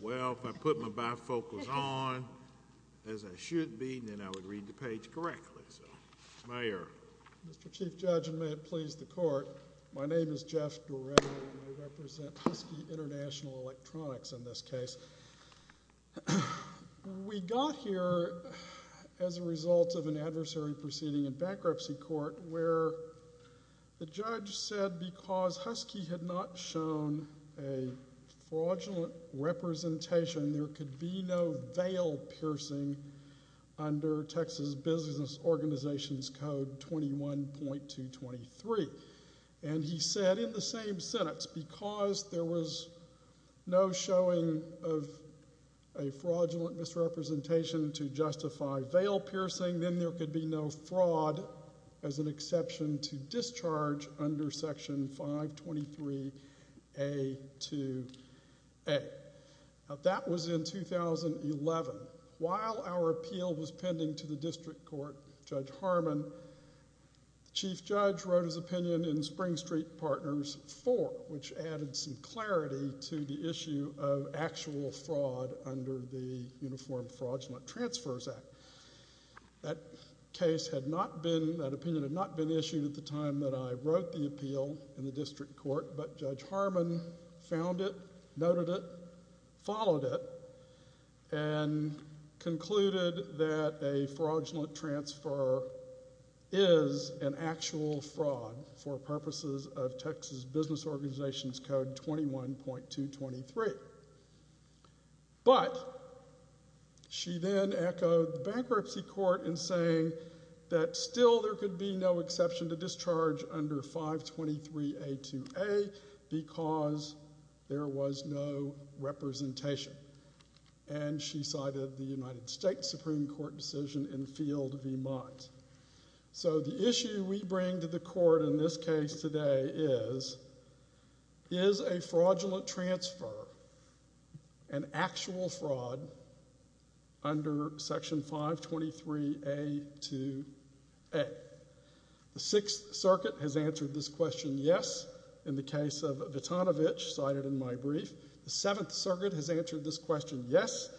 Well, if I put my bifocals on, as I should be, then I would read the page correctly. Mayor. Mr. Chief Judge, and may it please the Court, my name is Jeff Doretti, and I represent Husky International Electronics in this case. We got here as a result of an adversary proceeding in bankruptcy court where the judge said because fraudulent representation, there could be no veil piercing under Texas Business Organizations Code 21.223. And he said in the same sentence, because there was no showing of a fraudulent misrepresentation to justify veil piercing, then there could be no fraud as an exception to discharge under Section 523A2A. That was in 2011. While our appeal was pending to the district court, Judge Harmon, the Chief Judge wrote his opinion in Spring Street Partners 4, which added some clarity to the issue of actual fraud under the Uniform Fraudulent Transfers Act. That case had not been, that opinion had not been issued at the time that I wrote the appeal in the district court, but Judge Harmon found it, noted it, followed it, and concluded that a fraudulent transfer is an actual fraud for purposes of Texas Business Organizations Code 21.223. But she then echoed the bankruptcy court in saying that still there could be no exception to discharge under 523A2A because there was no representation. And she cited the United States Supreme Court decision in Field v. Mott. So the issue we bring to the court in this case today is, is a fraudulent transfer an actual fraud under Section 523A2A? The Sixth Circuit has answered this question, yes, in the case of Vitanovich, cited in my brief. The Seventh Circuit has answered this question, yes,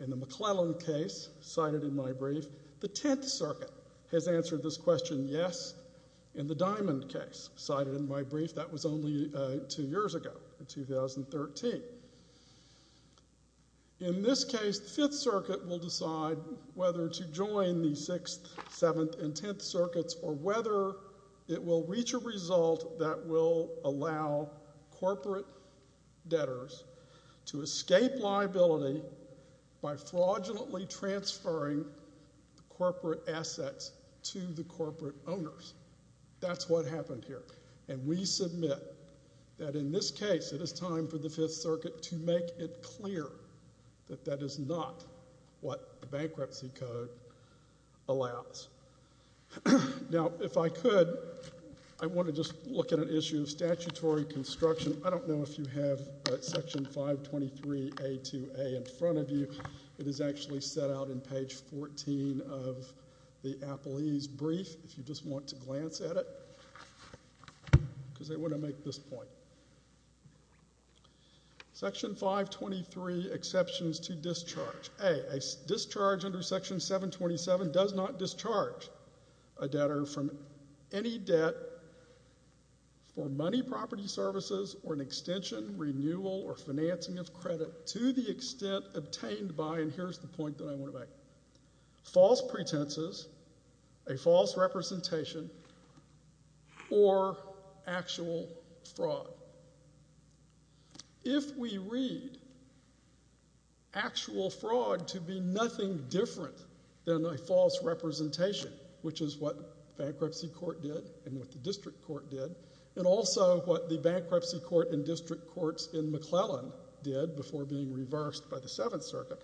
in the McClellan case, cited in my brief. The Tenth Circuit has answered this question, yes, in the Diamond case, cited in my brief. That was only two years ago, in 2013. In this case, the Fifth Circuit will decide whether to join the Sixth, Seventh, and Tenth Circuits or whether it will reach a result that will allow corporate debtors to escape liability by fraudulently transferring corporate assets to the corporate owners. That's what happened here. And we submit that in this case it is time for the Fifth Circuit to make it clear that that is not what the bankruptcy code allows. Now, if I could, I want to just look at an issue of statutory construction. I don't know if you have Section 523A2A in front of you. It is actually set out in page 14 of the Applease brief, if you just want to glance at it, because I want to make this point. Section 523, exceptions to discharge. A, a discharge under Section 727 does not discharge a debtor from any debt for money, property, services, or an extension, renewal, or financing of credit to the extent obtained by, and here's the point that I want to make, false pretenses, a false representation, or actual fraud. If we read actual fraud to be nothing different than a false representation, which is what bankruptcy court did and what the district court did, and also what the bankruptcy court and district courts in McClellan did before being reversed by the Seventh Circuit,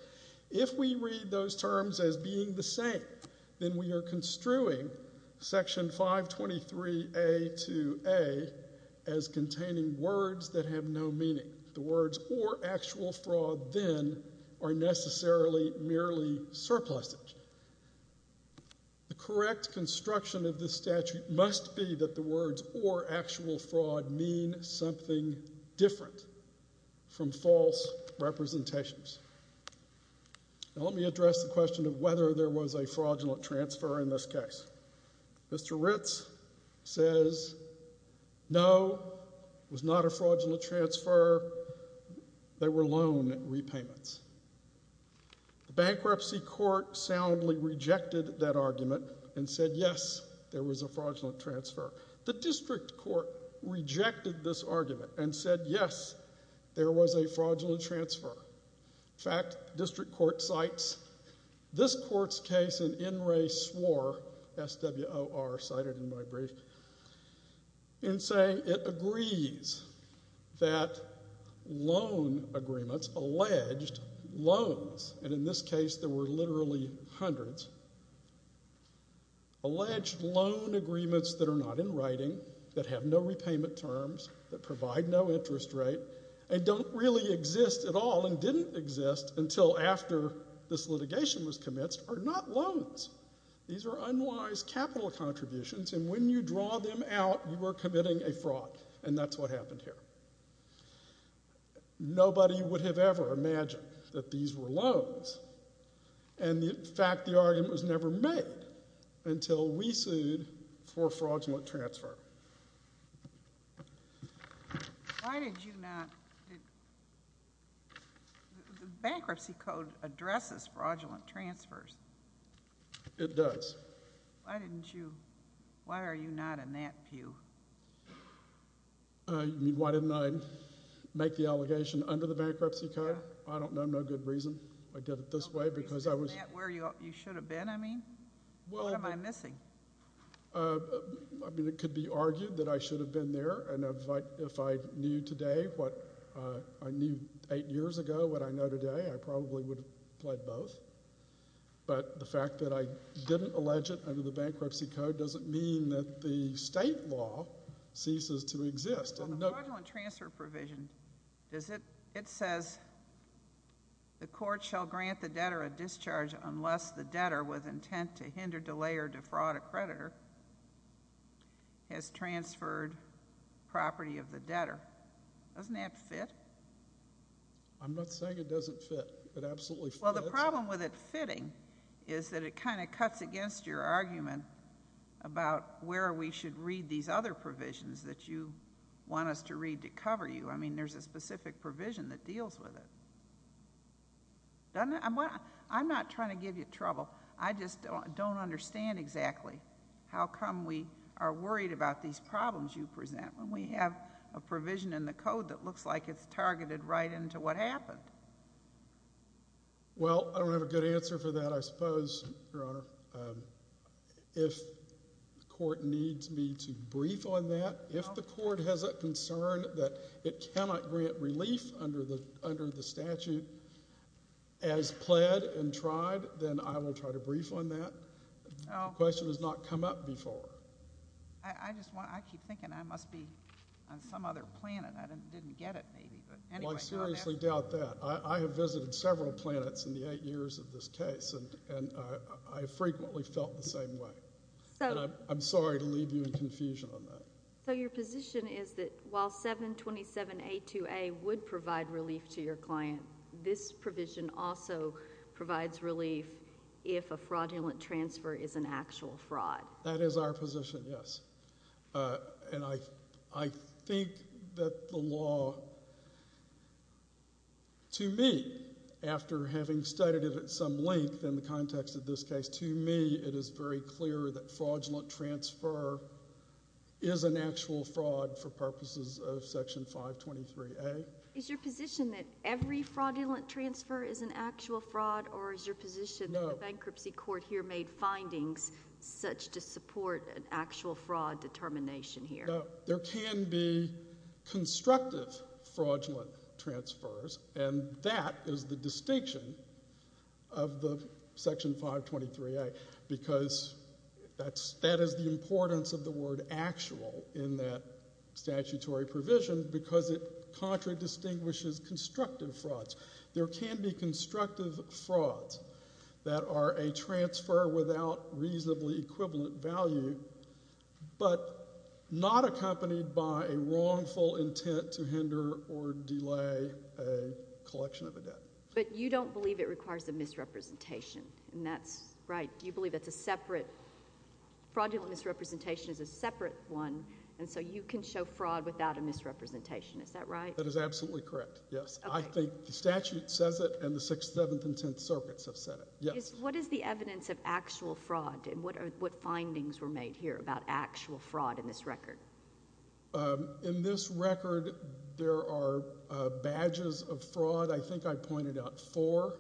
if we read those terms as being the same, then we are construing Section 523A2A as containing words that have no meaning. The words or actual fraud then are necessarily merely surpluses. The correct construction of this statute must be that the words or actual fraud mean something different from false representations. Now let me address the question of whether there was a fraudulent transfer in this case. Mr. Ritz says no, it was not a fraudulent transfer, there were loan repayments. The bankruptcy court soundly rejected that argument and said yes, there was a fraudulent transfer. The district court rejected this argument and said yes, there was a fraudulent transfer. In fact, district court cites this court's case in N. Ray Swor, S-W-O-R, cited in my brief, in saying it agrees that loan agreements, alleged loans, and in this case there were literally hundreds, alleged loan agreements that are not in writing, that have no repayment terms, that provide no interest rate, and don't really exist at all and didn't exist until after this litigation was commenced are not loans. These are unwise capital contributions and when you draw them out, you are committing a fraud and that's what happened here. Nobody would have ever imagined that these were loans and in fact the argument was never made until we sued for fraudulent transfer. The bankruptcy code addresses fraudulent transfers. It does. Why are you not in that pew? You mean why didn't I make the allegation under the bankruptcy code? I don't know no good reason I did it this way. Isn't that where you should have been, I mean? What am I missing? I mean, it could be argued that I should have been there and if I knew today what I knew 8 years ago what I know today, I probably would have pled both, but the fact that I didn't allege it under the bankruptcy code doesn't mean that the state law ceases to exist. The fraudulent transfer provision, it says the court shall grant the debtor a discharge unless the debtor was content to hinder, delay, or defraud a creditor, has transferred property of the debtor. Doesn't that fit? I'm not saying it doesn't fit. It absolutely fits. Well, the problem with it fitting is that it kind of cuts against your argument about where we should read these other provisions that you want us to read to cover you. I mean, there's a specific provision that deals with it. I'm not trying to give you trouble. I just don't understand exactly how come we are worried about these problems you present when we have a provision in the code that looks like it's targeted right into what happened. Well, I don't have a good answer for that, I suppose, Your Honor. If the court needs me to brief on that, if the court has a concern that it cannot grant relief under the statute, then as pled and tried, then I will try to brief on that. The question has not come up before. I keep thinking I must be on some other planet. I didn't get it, maybe. Well, I seriously doubt that. I have visited several planets in the eight years of this case, and I frequently felt the same way. I'm sorry to leave you in confusion on that. So your position is that while 727A2A would provide relief to your client, this provision also provides relief if a fraudulent transfer is an actual fraud. That is our position, yes. And I think that the law, to me, after having studied it at some length in the context of this case, to me it is very clear that fraudulent transfer is an actual fraud for purposes of Section 523A. Is your position that every fraudulent transfer is an actual fraud, or is your position that the bankruptcy court here made findings such to support an actual fraud determination here? There can be constructive fraudulent transfers, and that is the distinction of the Section 523A, because that is the importance of the word actual in that statutory provision because it contradistinguishes constructive frauds. There can be constructive frauds that are a transfer without reasonably equivalent value, but not accompanied by a wrongful intent to hinder or delay a collection of a debt. But you don't believe it requires a misrepresentation, and that's right. You believe it's a separate fraudulent misrepresentation is a separate one, and so you can show fraud without a misrepresentation, is that right? That is absolutely correct, yes. I think the statute says it, and the Sixth, Seventh, and Tenth Circuits have said it, yes. What is the evidence of actual fraud, and what findings were made here about actual fraud in this record? In this record, there are badges of fraud. I think I pointed out four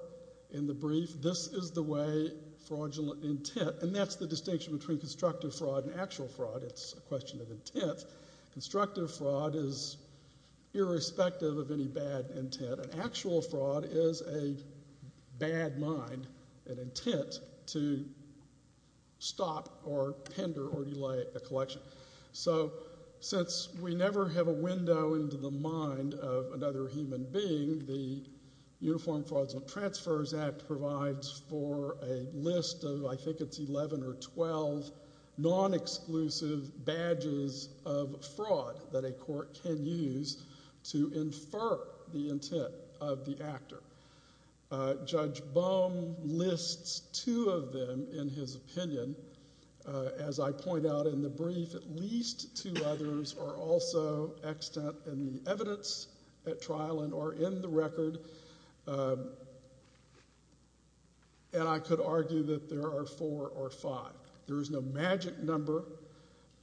in the brief. This is the way fraudulent intent, and that's the distinction between constructive fraud and actual fraud. It's a question of intent. Constructive fraud is irrespective of any bad intent, but an actual fraud is a bad mind, an intent to stop or pender or delay a collection. So since we never have a window into the mind of another human being, the Uniform Frauds and Transfers Act provides for a list of, I think it's 11 or 12, non-exclusive badges of fraud that a court can use to infer the intent of the actor. Judge Bohm lists two of them in his opinion. As I point out in the brief, at least two others are also extant in the evidence at trial and are in the record, and I could argue that there are four or five. There is no magic number.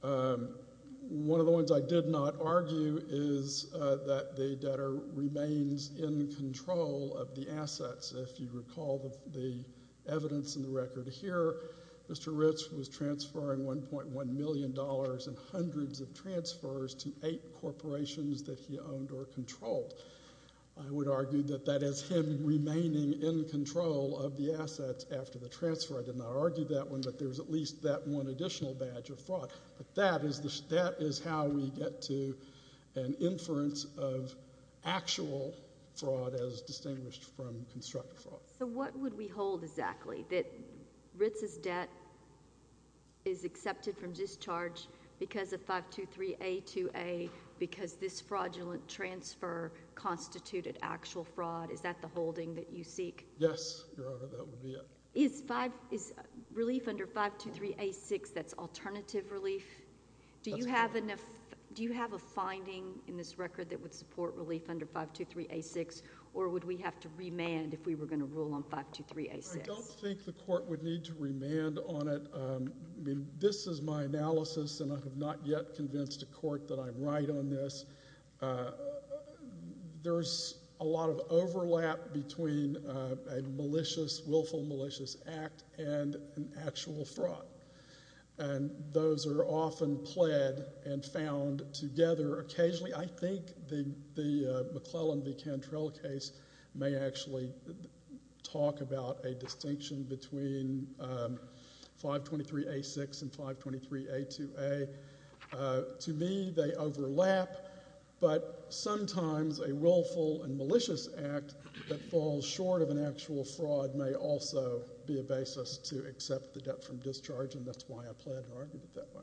One of the ones I did not argue is that the debtor remains in control of the assets. If you recall the evidence in the record here, Mr. Ritz was transferring $1.1 million and hundreds of transfers to eight corporations that he owned or controlled. I would argue that that is him remaining in control of the assets after the transfer. I did not argue that one, but there is at least that one additional badge of fraud. But that is how we get to an inference of actual fraud as distinguished from constructive fraud. So what would we hold exactly, that Ritz's debt is accepted from discharge because of 523A2A, because this fraudulent transfer constituted actual fraud? Is that the holding that you seek? Yes, Your Honor, that would be it. Is relief under 523A6, that's alternative relief? That's correct. Do you have a finding in this record that would support relief under 523A6, or would we have to remand if we were going to rule on 523A6? I don't think the court would need to remand on it. This is my analysis, and I have not yet convinced a court that I'm right on this. There's a lot of overlap between a malicious, willful malicious act and an actual fraud, and those are often pled and found together occasionally. I think the McClellan v. Cantrell case may actually talk about a distinction between 523A6 and 523A2A. To me, they overlap, but sometimes a willful and malicious act that falls short of an actual fraud may also be a basis to accept the debt from discharge, and that's why I pled and argued it that way.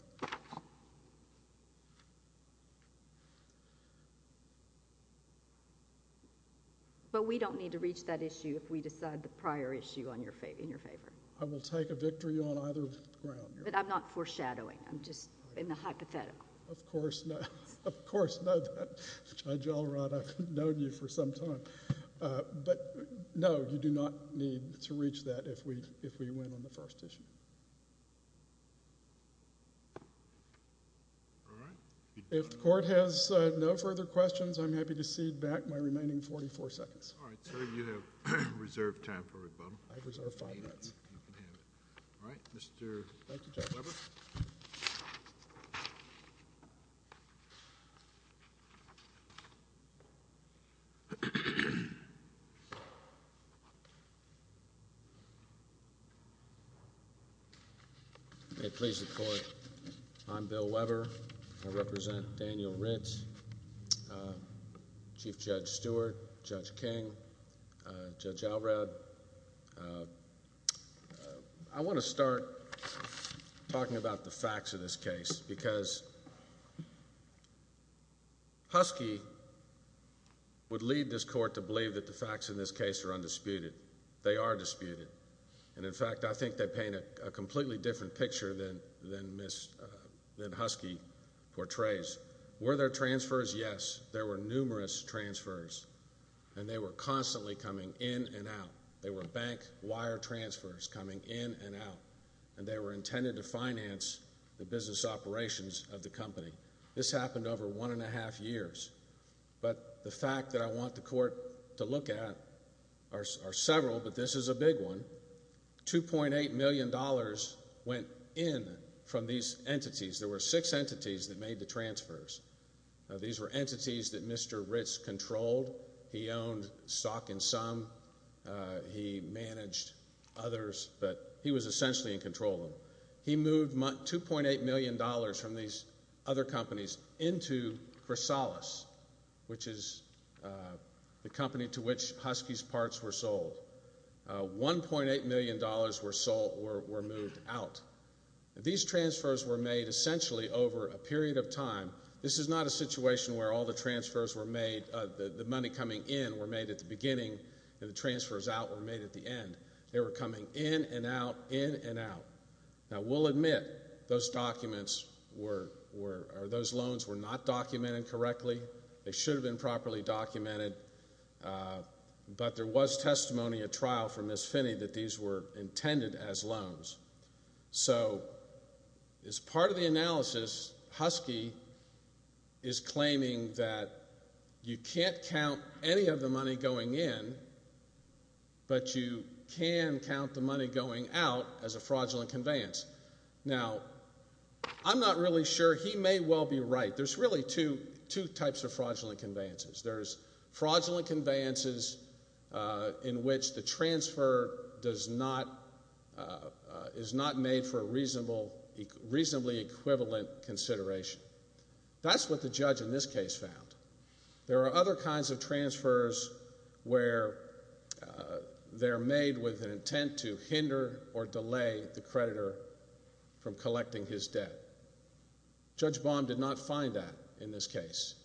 But we don't need to reach that issue if we decide the prior issue in your favor. I will take a victory on either ground, Your Honor. But I'm not foreshadowing. I'm just in the hypothetical. Of course not. Of course not. Judge Alrod, I've known you for some time. But no, you do not need to reach that if we win on the first issue. If the court has no further questions, I'm happy to cede back my remaining 44 seconds. All right. Sir, you have reserved time for rebuttal. I have reserved five minutes. You can have it. All right. Mr. Weber. May it please the court, I'm Bill Weber. I represent Daniel Ritz, Chief Judge Stewart, Judge King, Judge Alrod. I want to start talking about the facts of this case because Husky would lead this court to believe that the facts in this case are undisputed. They are disputed. And, in fact, I think they paint a completely different picture than Husky portrays. Were there transfers? Yes. There were numerous transfers. And they were constantly coming in and out. They were bank wire transfers coming in and out. And they were intended to finance the business operations of the company. This happened over one and a half years. But the fact that I want the court to look at are several, but this is a big one. $2.8 million went in from these entities. There were six entities that made the transfers. These were entities that Mr. Ritz controlled. He owned stock in some. He managed others. But he was essentially in control of them. He moved $2.8 million from these other companies into Chrysalis, which is the company to which Husky's parts were sold. $1.8 million were moved out. These transfers were made essentially over a period of time. This is not a situation where all the transfers were made, the money coming in were made at the beginning and the transfers out were made at the end. They were coming in and out, in and out. Now, we'll admit those documents were or those loans were not documented correctly. They should have been properly documented. But there was testimony at trial from Ms. Finney that these were intended as loans. So as part of the analysis, Husky is claiming that you can't count any of the money going in, but you can count the money going out as a fraudulent conveyance. Now, I'm not really sure. He may well be right. There's really two types of fraudulent conveyances. There's fraudulent conveyances in which the transfer is not made for a reasonably equivalent consideration. That's what the judge in this case found. There are other kinds of transfers where they're made with an intent to hinder or delay the creditor from collecting his debt. Judge Baum did not find that in this case.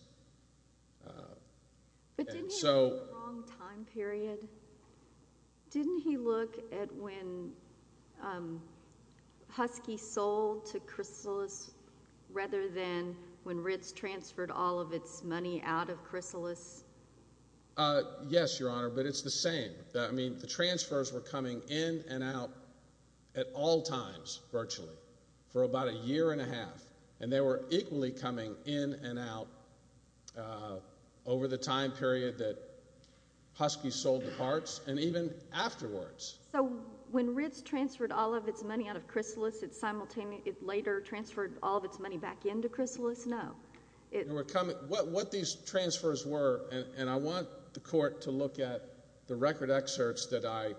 But didn't he have a long time period? Didn't he look at when Husky sold to Chrysalis rather than when Ritz transferred all of its money out of Chrysalis? Yes, Your Honor, but it's the same. I mean, the transfers were coming in and out at all times virtually for about a year and a half, and they were equally coming in and out over the time period that Husky sold the parts and even afterwards. So when Ritz transferred all of its money out of Chrysalis, it later transferred all of its money back into Chrysalis? No. What these transfers were, and I want the Court to look at the record excerpts that I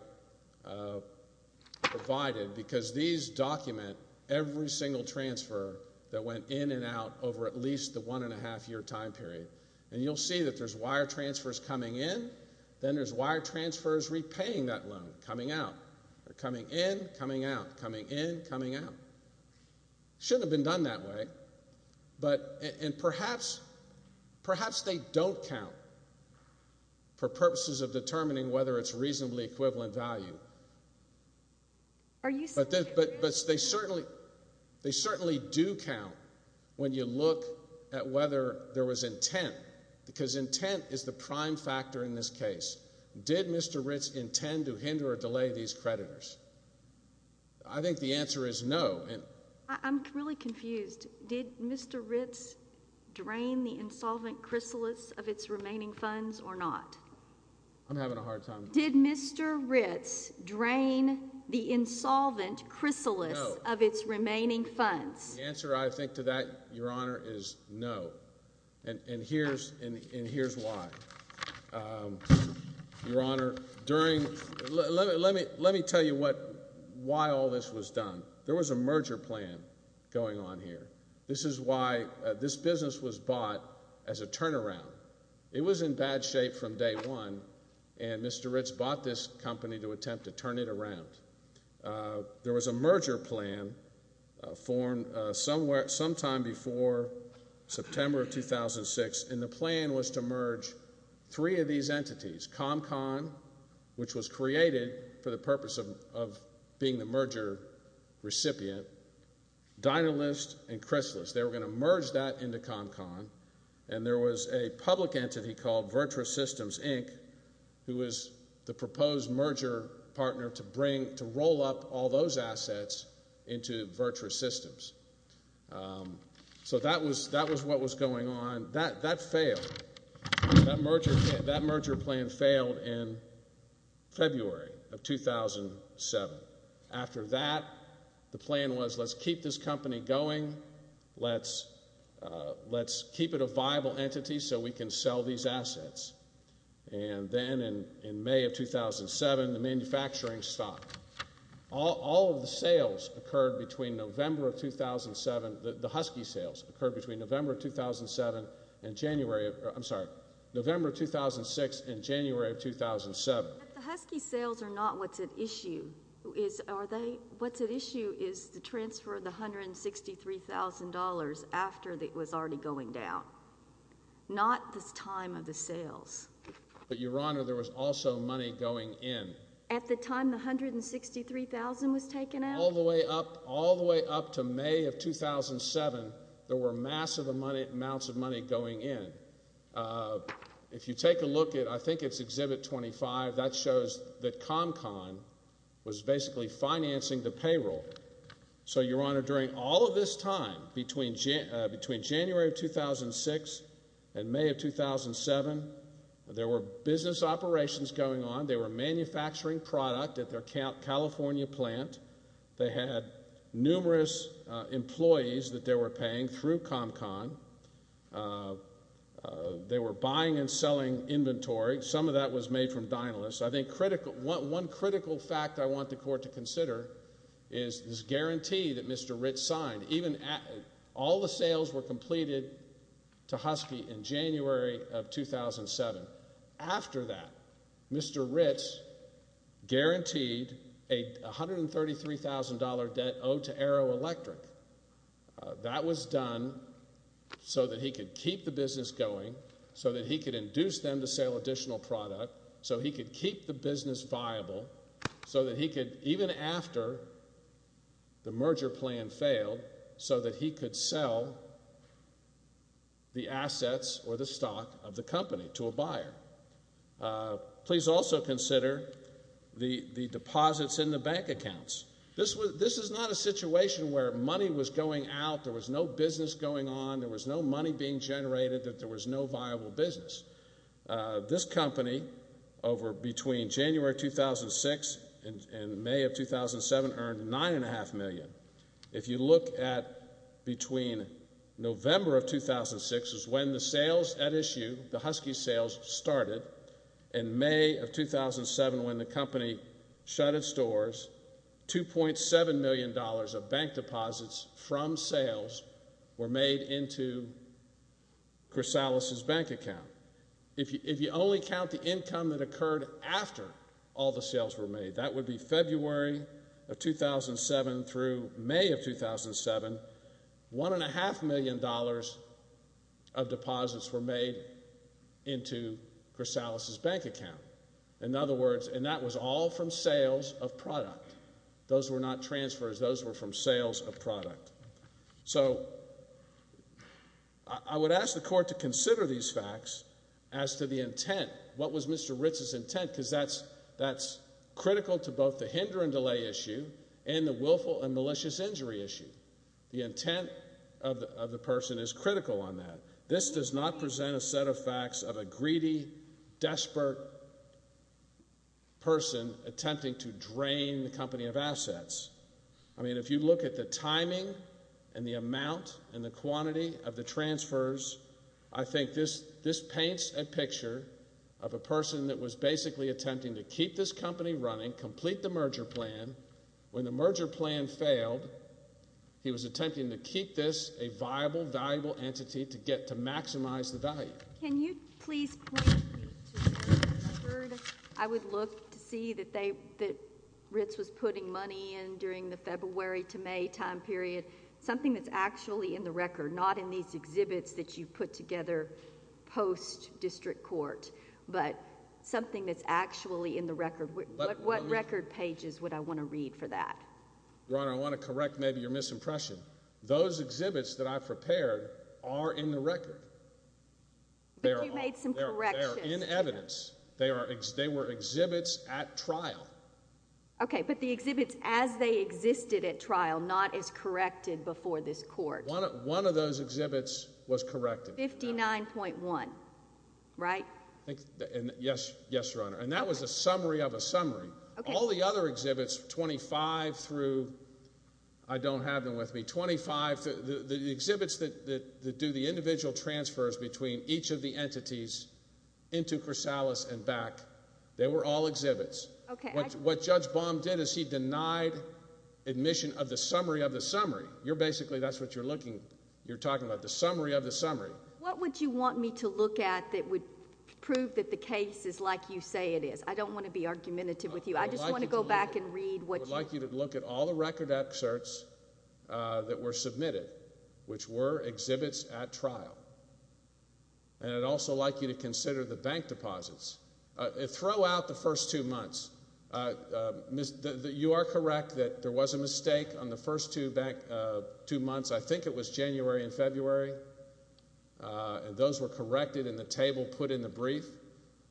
provided because these document every single transfer that went in and out over at least the one-and-a-half-year time period. And you'll see that there's wire transfers coming in, then there's wire transfers repaying that loan, coming out. They're coming in, coming out, coming in, coming out. It shouldn't have been done that way. And perhaps they don't count for purposes of determining whether it's reasonably equivalent value. But they certainly do count when you look at whether there was intent because intent is the prime factor in this case. Did Mr. Ritz intend to hinder or delay these creditors? I think the answer is no. I'm really confused. Did Mr. Ritz drain the insolvent Chrysalis of its remaining funds or not? I'm having a hard time. Did Mr. Ritz drain the insolvent Chrysalis of its remaining funds? The answer, I think, to that, Your Honor, is no. And here's why. Your Honor, let me tell you why all this was done. There was a merger plan going on here. This is why this business was bought as a turnaround. It was in bad shape from day one, and Mr. Ritz bought this company to attempt to turn it around. There was a merger plan formed sometime before September of 2006, and the plan was to merge three of these entities, ComCon, which was created for the purpose of being the merger recipient, Dynalist, and Chrysalis. They were going to merge that into ComCon. And there was a public entity called Virtua Systems, Inc., who was the proposed merger partner to roll up all those assets into Virtua Systems. So that was what was going on. That failed. That merger plan failed in February of 2007. After that, the plan was let's keep this company going. Let's keep it a viable entity so we can sell these assets. And then in May of 2007, the manufacturing stopped. All of the sales occurred between November of 2007. The Husky sales occurred between November of 2007 and January of—I'm sorry, November of 2006 and January of 2007. But the Husky sales are not what's at issue. What's at issue is the transfer of the $163,000 after it was already going down, not this time of the sales. But, Your Honor, there was also money going in. At the time the $163,000 was taken out? All the way up to May of 2007, there were massive amounts of money going in. If you take a look at—I think it's Exhibit 25. That shows that ComCon was basically financing the payroll. So, Your Honor, during all of this time between January of 2006 and May of 2007, there were business operations going on. They were manufacturing product at their California plant. They had numerous employees that they were paying through ComCon. They were buying and selling inventory. Some of that was made from Dinalys. I think one critical fact I want the Court to consider is this guarantee that Mr. Ritz signed. All the sales were completed to Husky in January of 2007. After that, Mr. Ritz guaranteed a $133,000 debt owed to Arrow Electric. That was done so that he could keep the business going, so that he could induce them to sell additional product, so he could keep the business viable, so that he could, even after the merger plan failed, so that he could sell the assets or the stock of the company to a buyer. Please also consider the deposits in the bank accounts. This is not a situation where money was going out, there was no business going on, there was no money being generated, that there was no viable business. This company, between January 2006 and May of 2007, earned $9.5 million. If you look at between November of 2006, which is when the sales at issue, the Husky sales started, and May of 2007, when the company shut its doors, $2.7 million of bank deposits from sales were made into Chrysalis's bank account. If you only count the income that occurred after all the sales were made, that would be February of 2007 through May of 2007, $1.5 million of deposits were made into Chrysalis's bank account. In other words, and that was all from sales of product. Those were not transfers, those were from sales of product. So, I would ask the court to consider these facts as to the intent. What was Mr. Ritz's intent? Because that's critical to both the hinder and delay issue, and the willful and malicious injury issue. The intent of the person is critical on that. This does not present a set of facts of a greedy, desperate person attempting to drain the company of assets. I mean, if you look at the timing and the amount and the quantity of the transfers, I think this paints a picture of a person that was basically attempting to keep this company running, complete the merger plan. When the merger plan failed, he was attempting to keep this a viable, valuable entity to maximize the value. Can you please point me to the record? I would look to see that Ritz was putting money in during the February to May time period, something that's actually in the record, not in these exhibits that you put together post-district court, but something that's actually in the record. What record pages would I want to read for that? Your Honor, I want to correct maybe your misimpression. Those exhibits that I've prepared are in the record. But you made some corrections. They are in evidence. They were exhibits at trial. Okay, but the exhibits as they existed at trial, not as corrected before this court. One of those exhibits was corrected. 59.1, right? Yes, Your Honor. And that was a summary of a summary. All the other exhibits, 25 through, I don't have them with me, 25, the exhibits that do the individual transfers between each of the entities into Corsalis and back, they were all exhibits. What Judge Baum did is he denied admission of the summary of the summary. You're basically, that's what you're looking, you're talking about, the summary of the summary. What would you want me to look at that would prove that the case is like you say it is? I don't want to be argumentative with you. I just want to go back and read what you. I would like you to look at all the record excerpts that were submitted, which were exhibits at trial. And I'd also like you to consider the bank deposits. Throw out the first two months. You are correct that there was a mistake on the first two months. I think it was January and February. And those were corrected in the table put in the brief.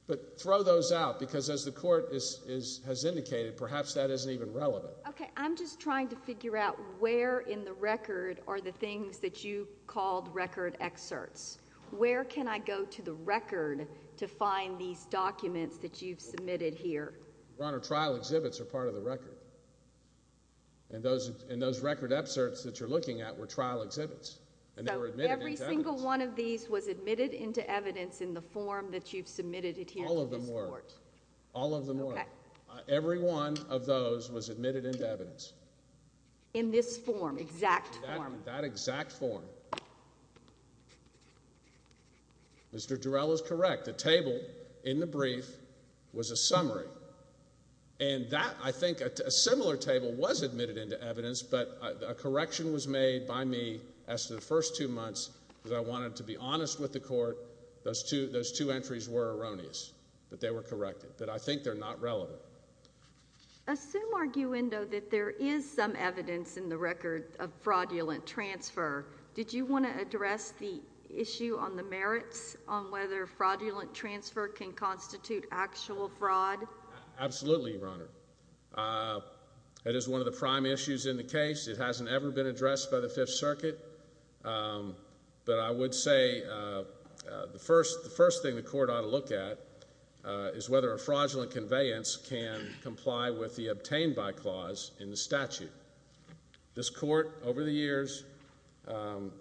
But throw those out, because as the court has indicated, perhaps that isn't even relevant. Okay. I'm just trying to figure out where in the record are the things that you called record excerpts. Where can I go to the record to find these documents that you've submitted here? Your Honor, trial exhibits are part of the record. And those record excerpts that you're looking at were trial exhibits. And they were admitted into evidence. So every single one of these was admitted into evidence in the form that you've submitted it here to this court. All of them were. All of them were. Okay. Every one of those was admitted into evidence. In this form, exact form. That exact form. Mr. Durell is correct. The table in the brief was a summary. And that, I think, a similar table was admitted into evidence. But a correction was made by me as to the first two months, because I wanted to be honest with the court. Those two entries were erroneous. But they were corrected. But I think they're not relevant. Assume, arguendo, that there is some evidence in the record of fraudulent transfer. Did you want to address the issue on the merits on whether fraudulent transfer can constitute actual fraud? Absolutely, Your Honor. That is one of the prime issues in the case. It hasn't ever been addressed by the Fifth Circuit. But I would say the first thing the court ought to look at is whether a fraudulent conveyance can comply with the obtained by clause in the statute. This court, over the years, well,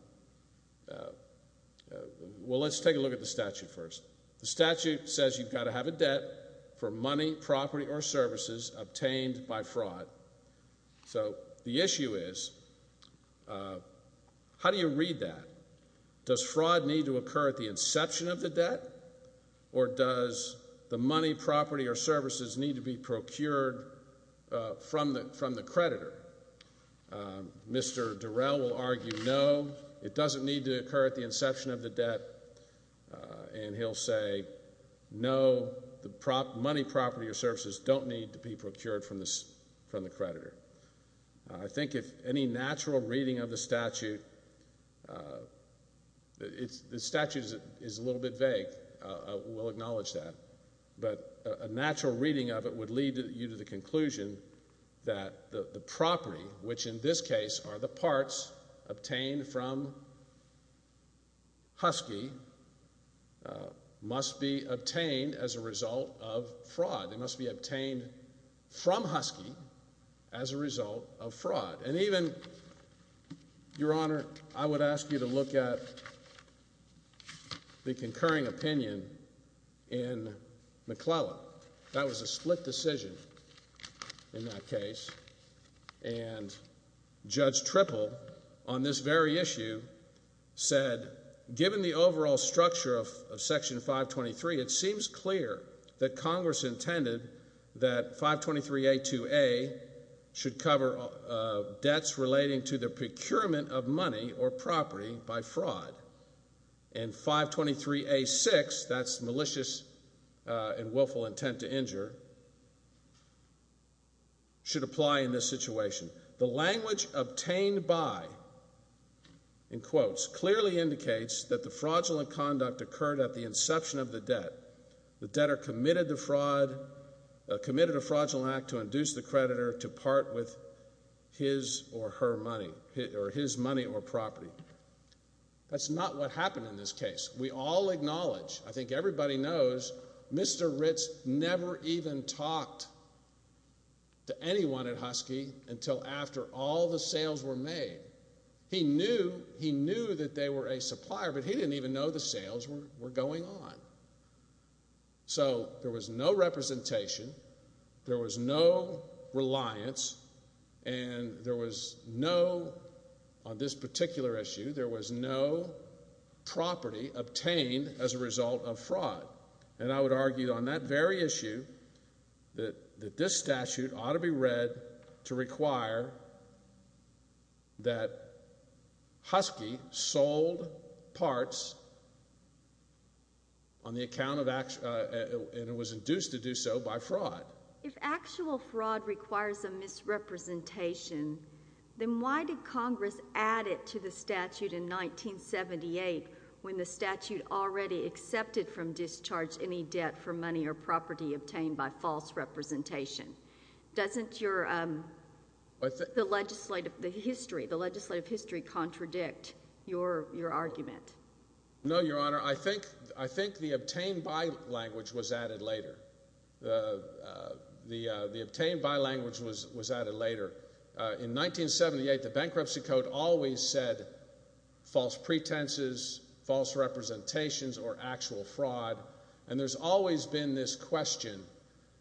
let's take a look at the statute first. The statute says you've got to have a debt for money, property, or services obtained by fraud. So the issue is, how do you read that? Does fraud need to occur at the inception of the debt? Or does the money, property, or services need to be procured from the creditor? Mr. Durrell will argue no, it doesn't need to occur at the inception of the debt. And he'll say no, the money, property, or services don't need to be procured from the creditor. I think if any natural reading of the statute, the statute is a little bit vague. We'll acknowledge that. But a natural reading of it would lead you to the conclusion that the property, which in this case are the parts obtained from Husky, must be obtained as a result of fraud. They must be obtained from Husky as a result of fraud. And even, Your Honor, I would ask you to look at the concurring opinion in McClellan. That was a split decision in that case. And Judge Tripple, on this very issue, said, Given the overall structure of Section 523, it seems clear that Congress intended that 523a2a should cover debts relating to the procurement of money or property by fraud. And 523a6, that's malicious and willful intent to injure, should apply in this situation. The language obtained by, in quotes, clearly indicates that the fraudulent conduct occurred at the inception of the debt. The debtor committed a fraudulent act to induce the creditor to part with his or her money, or his money or property. That's not what happened in this case. We all acknowledge, I think everybody knows, Mr. Ritz never even talked to anyone at Husky until after all the sales were made. He knew that they were a supplier, but he didn't even know the sales were going on. So, there was no representation, there was no reliance, and there was no, on this particular issue, there was no property obtained as a result of fraud. And I would argue on that very issue that this statute ought to be read to require that Husky sold parts on the account of, and it was induced to do so by fraud. If actual fraud requires a misrepresentation, then why did Congress add it to the statute in 1978 when the statute already accepted from discharge any debt for money or property obtained by false representation? Doesn't your, the legislative, the history, the legislative history contradict your argument? No, Your Honor. I think the obtained by language was added later. In 1978, the bankruptcy code always said false pretenses, false representations, or actual fraud. And there's always been this question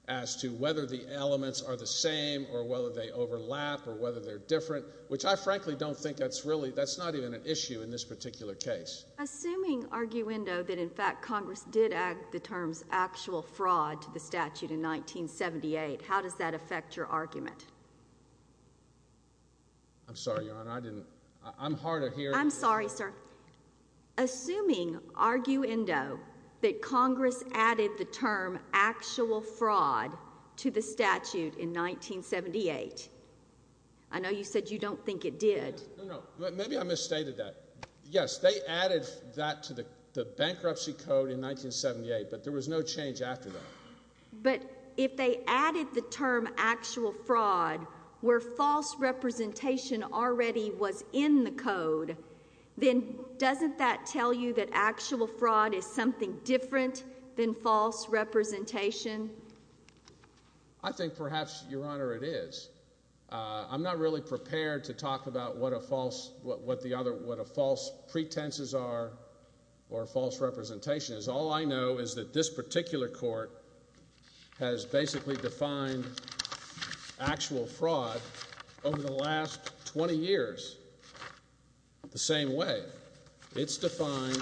as to whether the elements are the same or whether they overlap or whether they're different, which I frankly don't think that's really, that's not even an issue in this particular case. Assuming, arguendo, that in fact Congress did add the terms actual fraud to the statute in 1978, how does that affect your argument? I'm sorry, Your Honor, I didn't, I'm hard of hearing. I'm sorry, sir. Assuming, arguendo, that Congress added the term actual fraud to the statute in 1978, I know you said you don't think it did. No, no. Maybe I misstated that. Yes, they added that to the bankruptcy code in 1978, but there was no change after that. But if they added the term actual fraud where false representation already was in the code, then doesn't that tell you that actual fraud is something different than false representation? I think perhaps, Your Honor, it is. I'm not really prepared to talk about what a false, what the other, what a false pretenses are or false representations. All I know is that this particular court has basically defined actual fraud over the last 20 years the same way. It's defined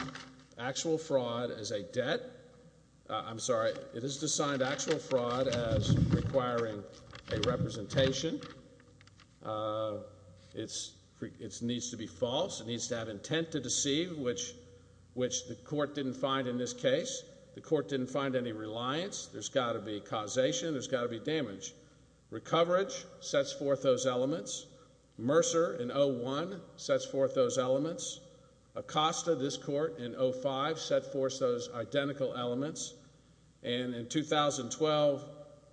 actual fraud as a debt. I'm sorry, it is defined actual fraud as requiring a representation. It needs to be false. It needs to have intent to deceive, which the court didn't find in this case. The court didn't find any reliance. There's got to be causation. There's got to be damage. Recoverage sets forth those elements. Mercer in 01 sets forth those elements. Acosta, this court, in 05, set forth those identical elements. And in 2012,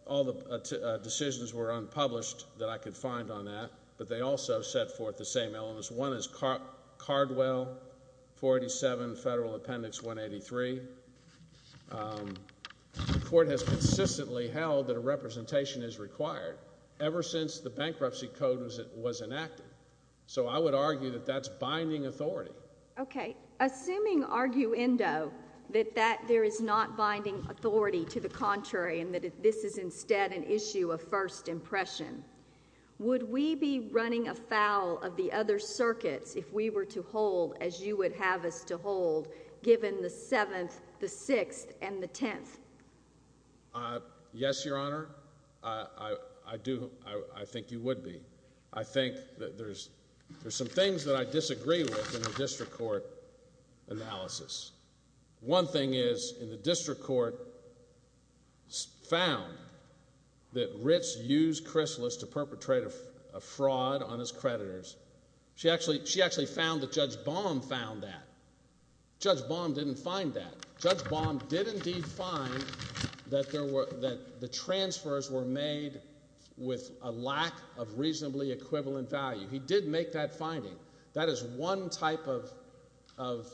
all the decisions were unpublished that I could find on that, but they also set forth the same elements. One is Cardwell, 47 Federal Appendix 183. The court has consistently held that a representation is required ever since the bankruptcy code was enacted. So I would argue that that's binding authority. Okay. Assuming, arguendo, that there is not binding authority to the contrary and that this is instead an issue of first impression, would we be running afoul of the other circuits if we were to hold as you would have us to hold given the 7th, the 6th, and the 10th? Yes, Your Honor. I do. I think you would be. I think that there's some things that I disagree with in the district court analysis. One thing is in the district court found that Ritz used Chrysalis to perpetrate a fraud on his creditors. She actually found that Judge Baum found that. Judge Baum didn't find that. Judge Baum did indeed find that the transfers were made with a lack of reasonably equivalent value. He did make that finding. That is one type of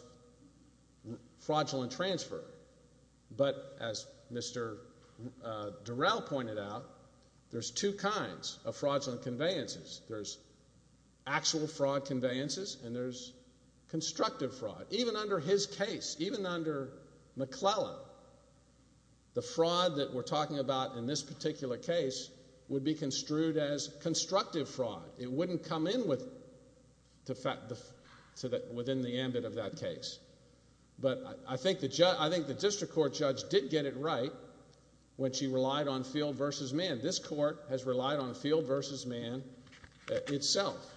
fraudulent transfer. But as Mr. Durrell pointed out, there's two kinds of fraudulent conveyances. There's actual fraud conveyances and there's constructive fraud. Even under his case, even under McClellan, the fraud that we're talking about in this particular case would be construed as constructive fraud. It wouldn't come in within the ambit of that case. But I think the district court judge did get it right when she relied on field versus man. This court has relied on field versus man itself.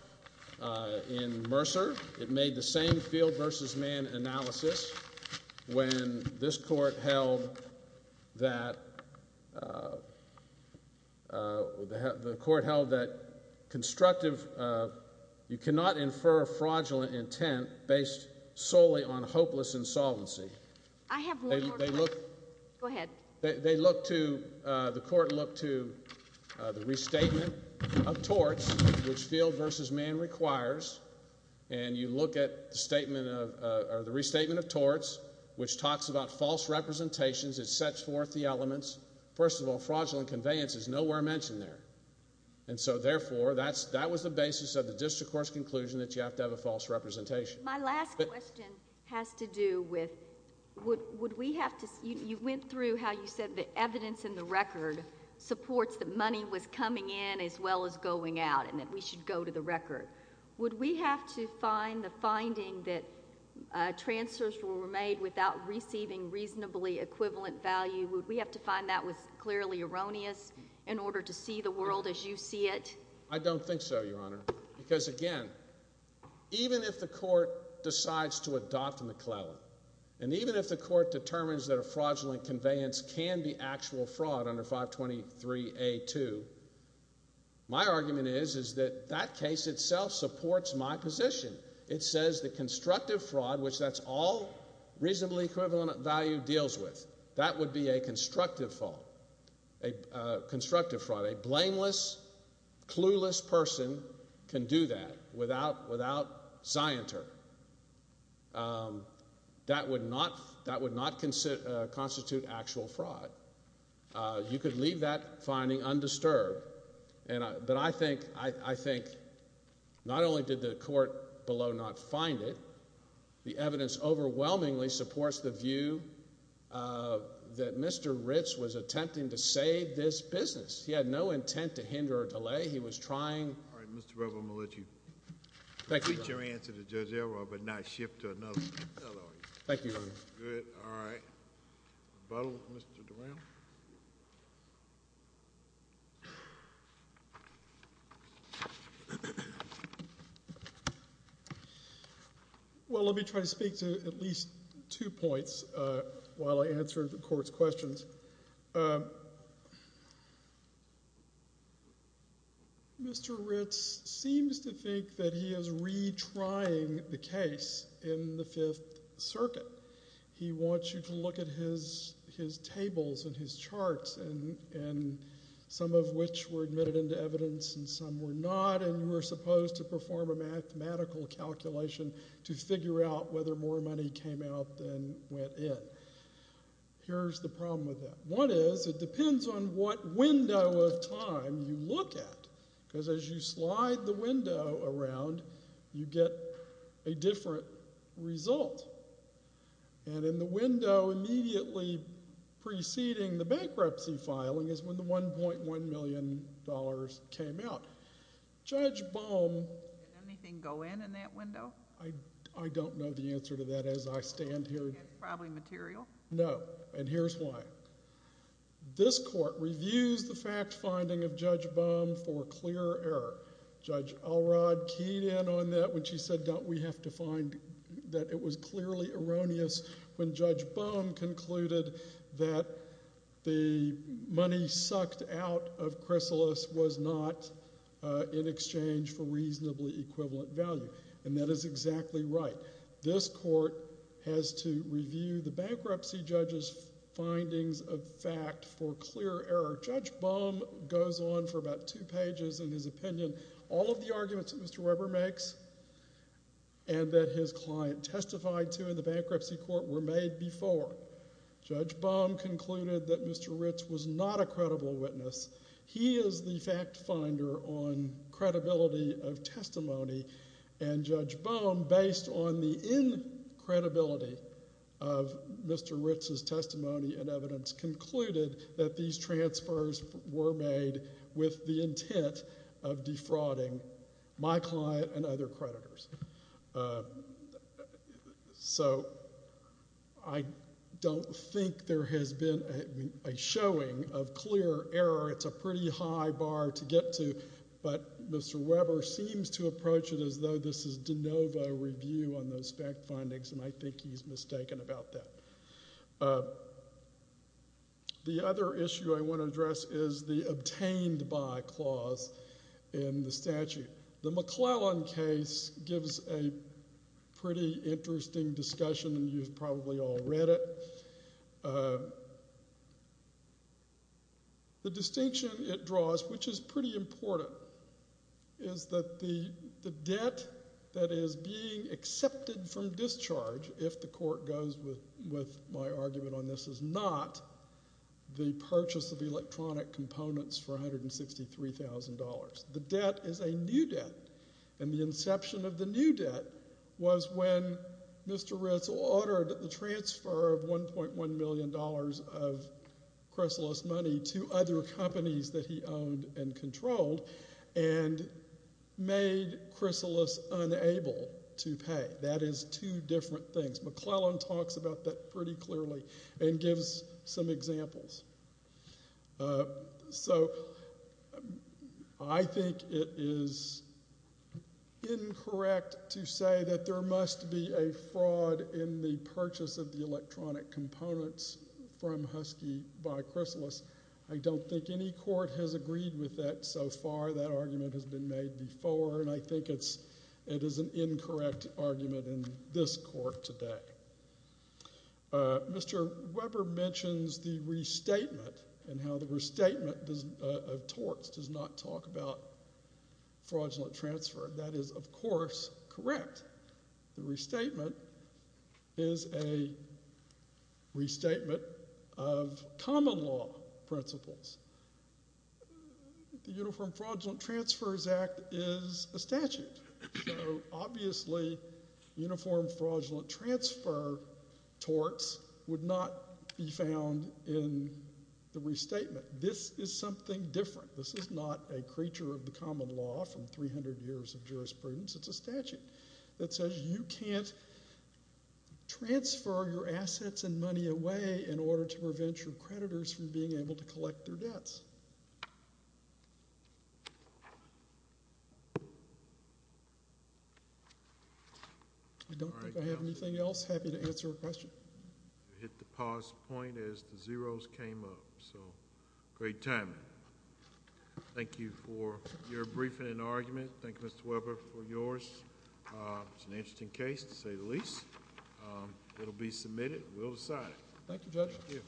In Mercer, it made the same field versus man analysis when this court held that the court held that constructive, you cannot infer fraudulent intent based solely on hopeless insolvency. Go ahead. The court looked to the restatement of torts, which field versus man requires, and you look at the restatement of torts, which talks about false representations. It sets forth the elements. First of all, fraudulent conveyance is nowhere mentioned there. And so, therefore, that was the basis of the district court's conclusion that you have to have a false representation. My last question has to do with would we have to – you went through how you said the evidence in the record supports that money was coming in as well as going out and that we should go to the record. Would we have to find the finding that transfers were made without receiving reasonably equivalent value? Would we have to find that was clearly erroneous in order to see the world as you see it? I don't think so, Your Honor. Because, again, even if the court decides to adopt McClellan and even if the court determines that a fraudulent conveyance can be actual fraud under 523A2, my argument is that that case itself supports my position. It says the constructive fraud, which that's all reasonably equivalent value deals with, that would be a constructive fraud. A blameless, clueless person can do that without zionter. That would not constitute actual fraud. You could leave that finding undisturbed, but I think not only did the court below not find it, but the evidence overwhelmingly supports the view that Mr. Ritz was attempting to save this business. He had no intent to hinder or delay. He was trying— All right, Mr. Brewer, I'm going to let you complete your answer to Judge Elroy but not shift to another lawyer. Thank you, Your Honor. Good. All right. The battle with Mr. Durant. Well, let me try to speak to at least two points while I answer the court's questions. Mr. Ritz seems to think that he is retrying the case in the Fifth Circuit. He wants you to look at his tables and his charts, and some of which were admitted into evidence and some were not, and you were supposed to perform a mathematical calculation to figure out whether more money came out than went in. Here's the problem with that. One is it depends on what window of time you look at, because as you slide the window around, you get a different result, and in the window immediately preceding the bankruptcy filing is when the $1.1 million came out. Judge Bohm— Did anything go in in that window? I don't know the answer to that as I stand here. It's probably material. No, and here's why. This court reviews the fact finding of Judge Bohm for clear error. Judge Alrod keyed in on that when she said, don't we have to find that it was clearly erroneous when Judge Bohm concluded that the money sucked out of Chrysalis was not in exchange for reasonably equivalent value, and that is exactly right. This court has to review the bankruptcy judge's findings of fact for clear error. Judge Bohm goes on for about two pages in his opinion. All of the arguments that Mr. Weber makes and that his client testified to in the bankruptcy court were made before. Judge Bohm concluded that Mr. Ritz was not a credible witness. He is the fact finder on credibility of testimony, and Judge Bohm, based on the incredibility of Mr. Ritz's testimony and evidence, concluded that these transfers were made with the intent of defrauding my client and other creditors. So I don't think there has been a showing of clear error. It's a pretty high bar to get to, but Mr. Weber seems to approach it as though this is de novo review on those fact findings, and I think he's mistaken about that. The other issue I want to address is the obtained by clause in the statute. The McClellan case gives a pretty interesting discussion, and you've probably all read it. The distinction it draws, which is pretty important, is that the debt that is being accepted from discharge, if the court goes with my argument on this, is not the purchase of electronic components for $163,000. The debt is a new debt, and the inception of the new debt was when Mr. Ritz ordered the transfer of $1.1 million of Chrysalis money to other companies that he owned and controlled and made Chrysalis unable to pay. That is two different things. McClellan talks about that pretty clearly and gives some examples. So I think it is incorrect to say that there must be a fraud in the purchase of the electronic components from Husky by Chrysalis. I don't think any court has agreed with that so far. That argument has been made before, and I think it is an incorrect argument in this court today. Mr. Weber mentions the restatement and how the restatement of torts does not talk about fraudulent transfer. That is, of course, correct. The restatement is a restatement of common law principles. The Uniform Fraudulent Transfers Act is a statute, so obviously uniform fraudulent transfer torts would not be found in the restatement. This is something different. This is not a creature of the common law from 300 years of jurisprudence. It is a statute that says you can't transfer your assets and money away in order to prevent your creditors from being able to collect their debts. I don't think I have anything else. Happy to answer a question. You hit the pause point as the zeros came up, so great timing. Thank you for your briefing and argument. Thank you, Mr. Weber, for yours. It's an interesting case to say the least. It will be submitted. We'll decide. Thank you, Judge. Thank you.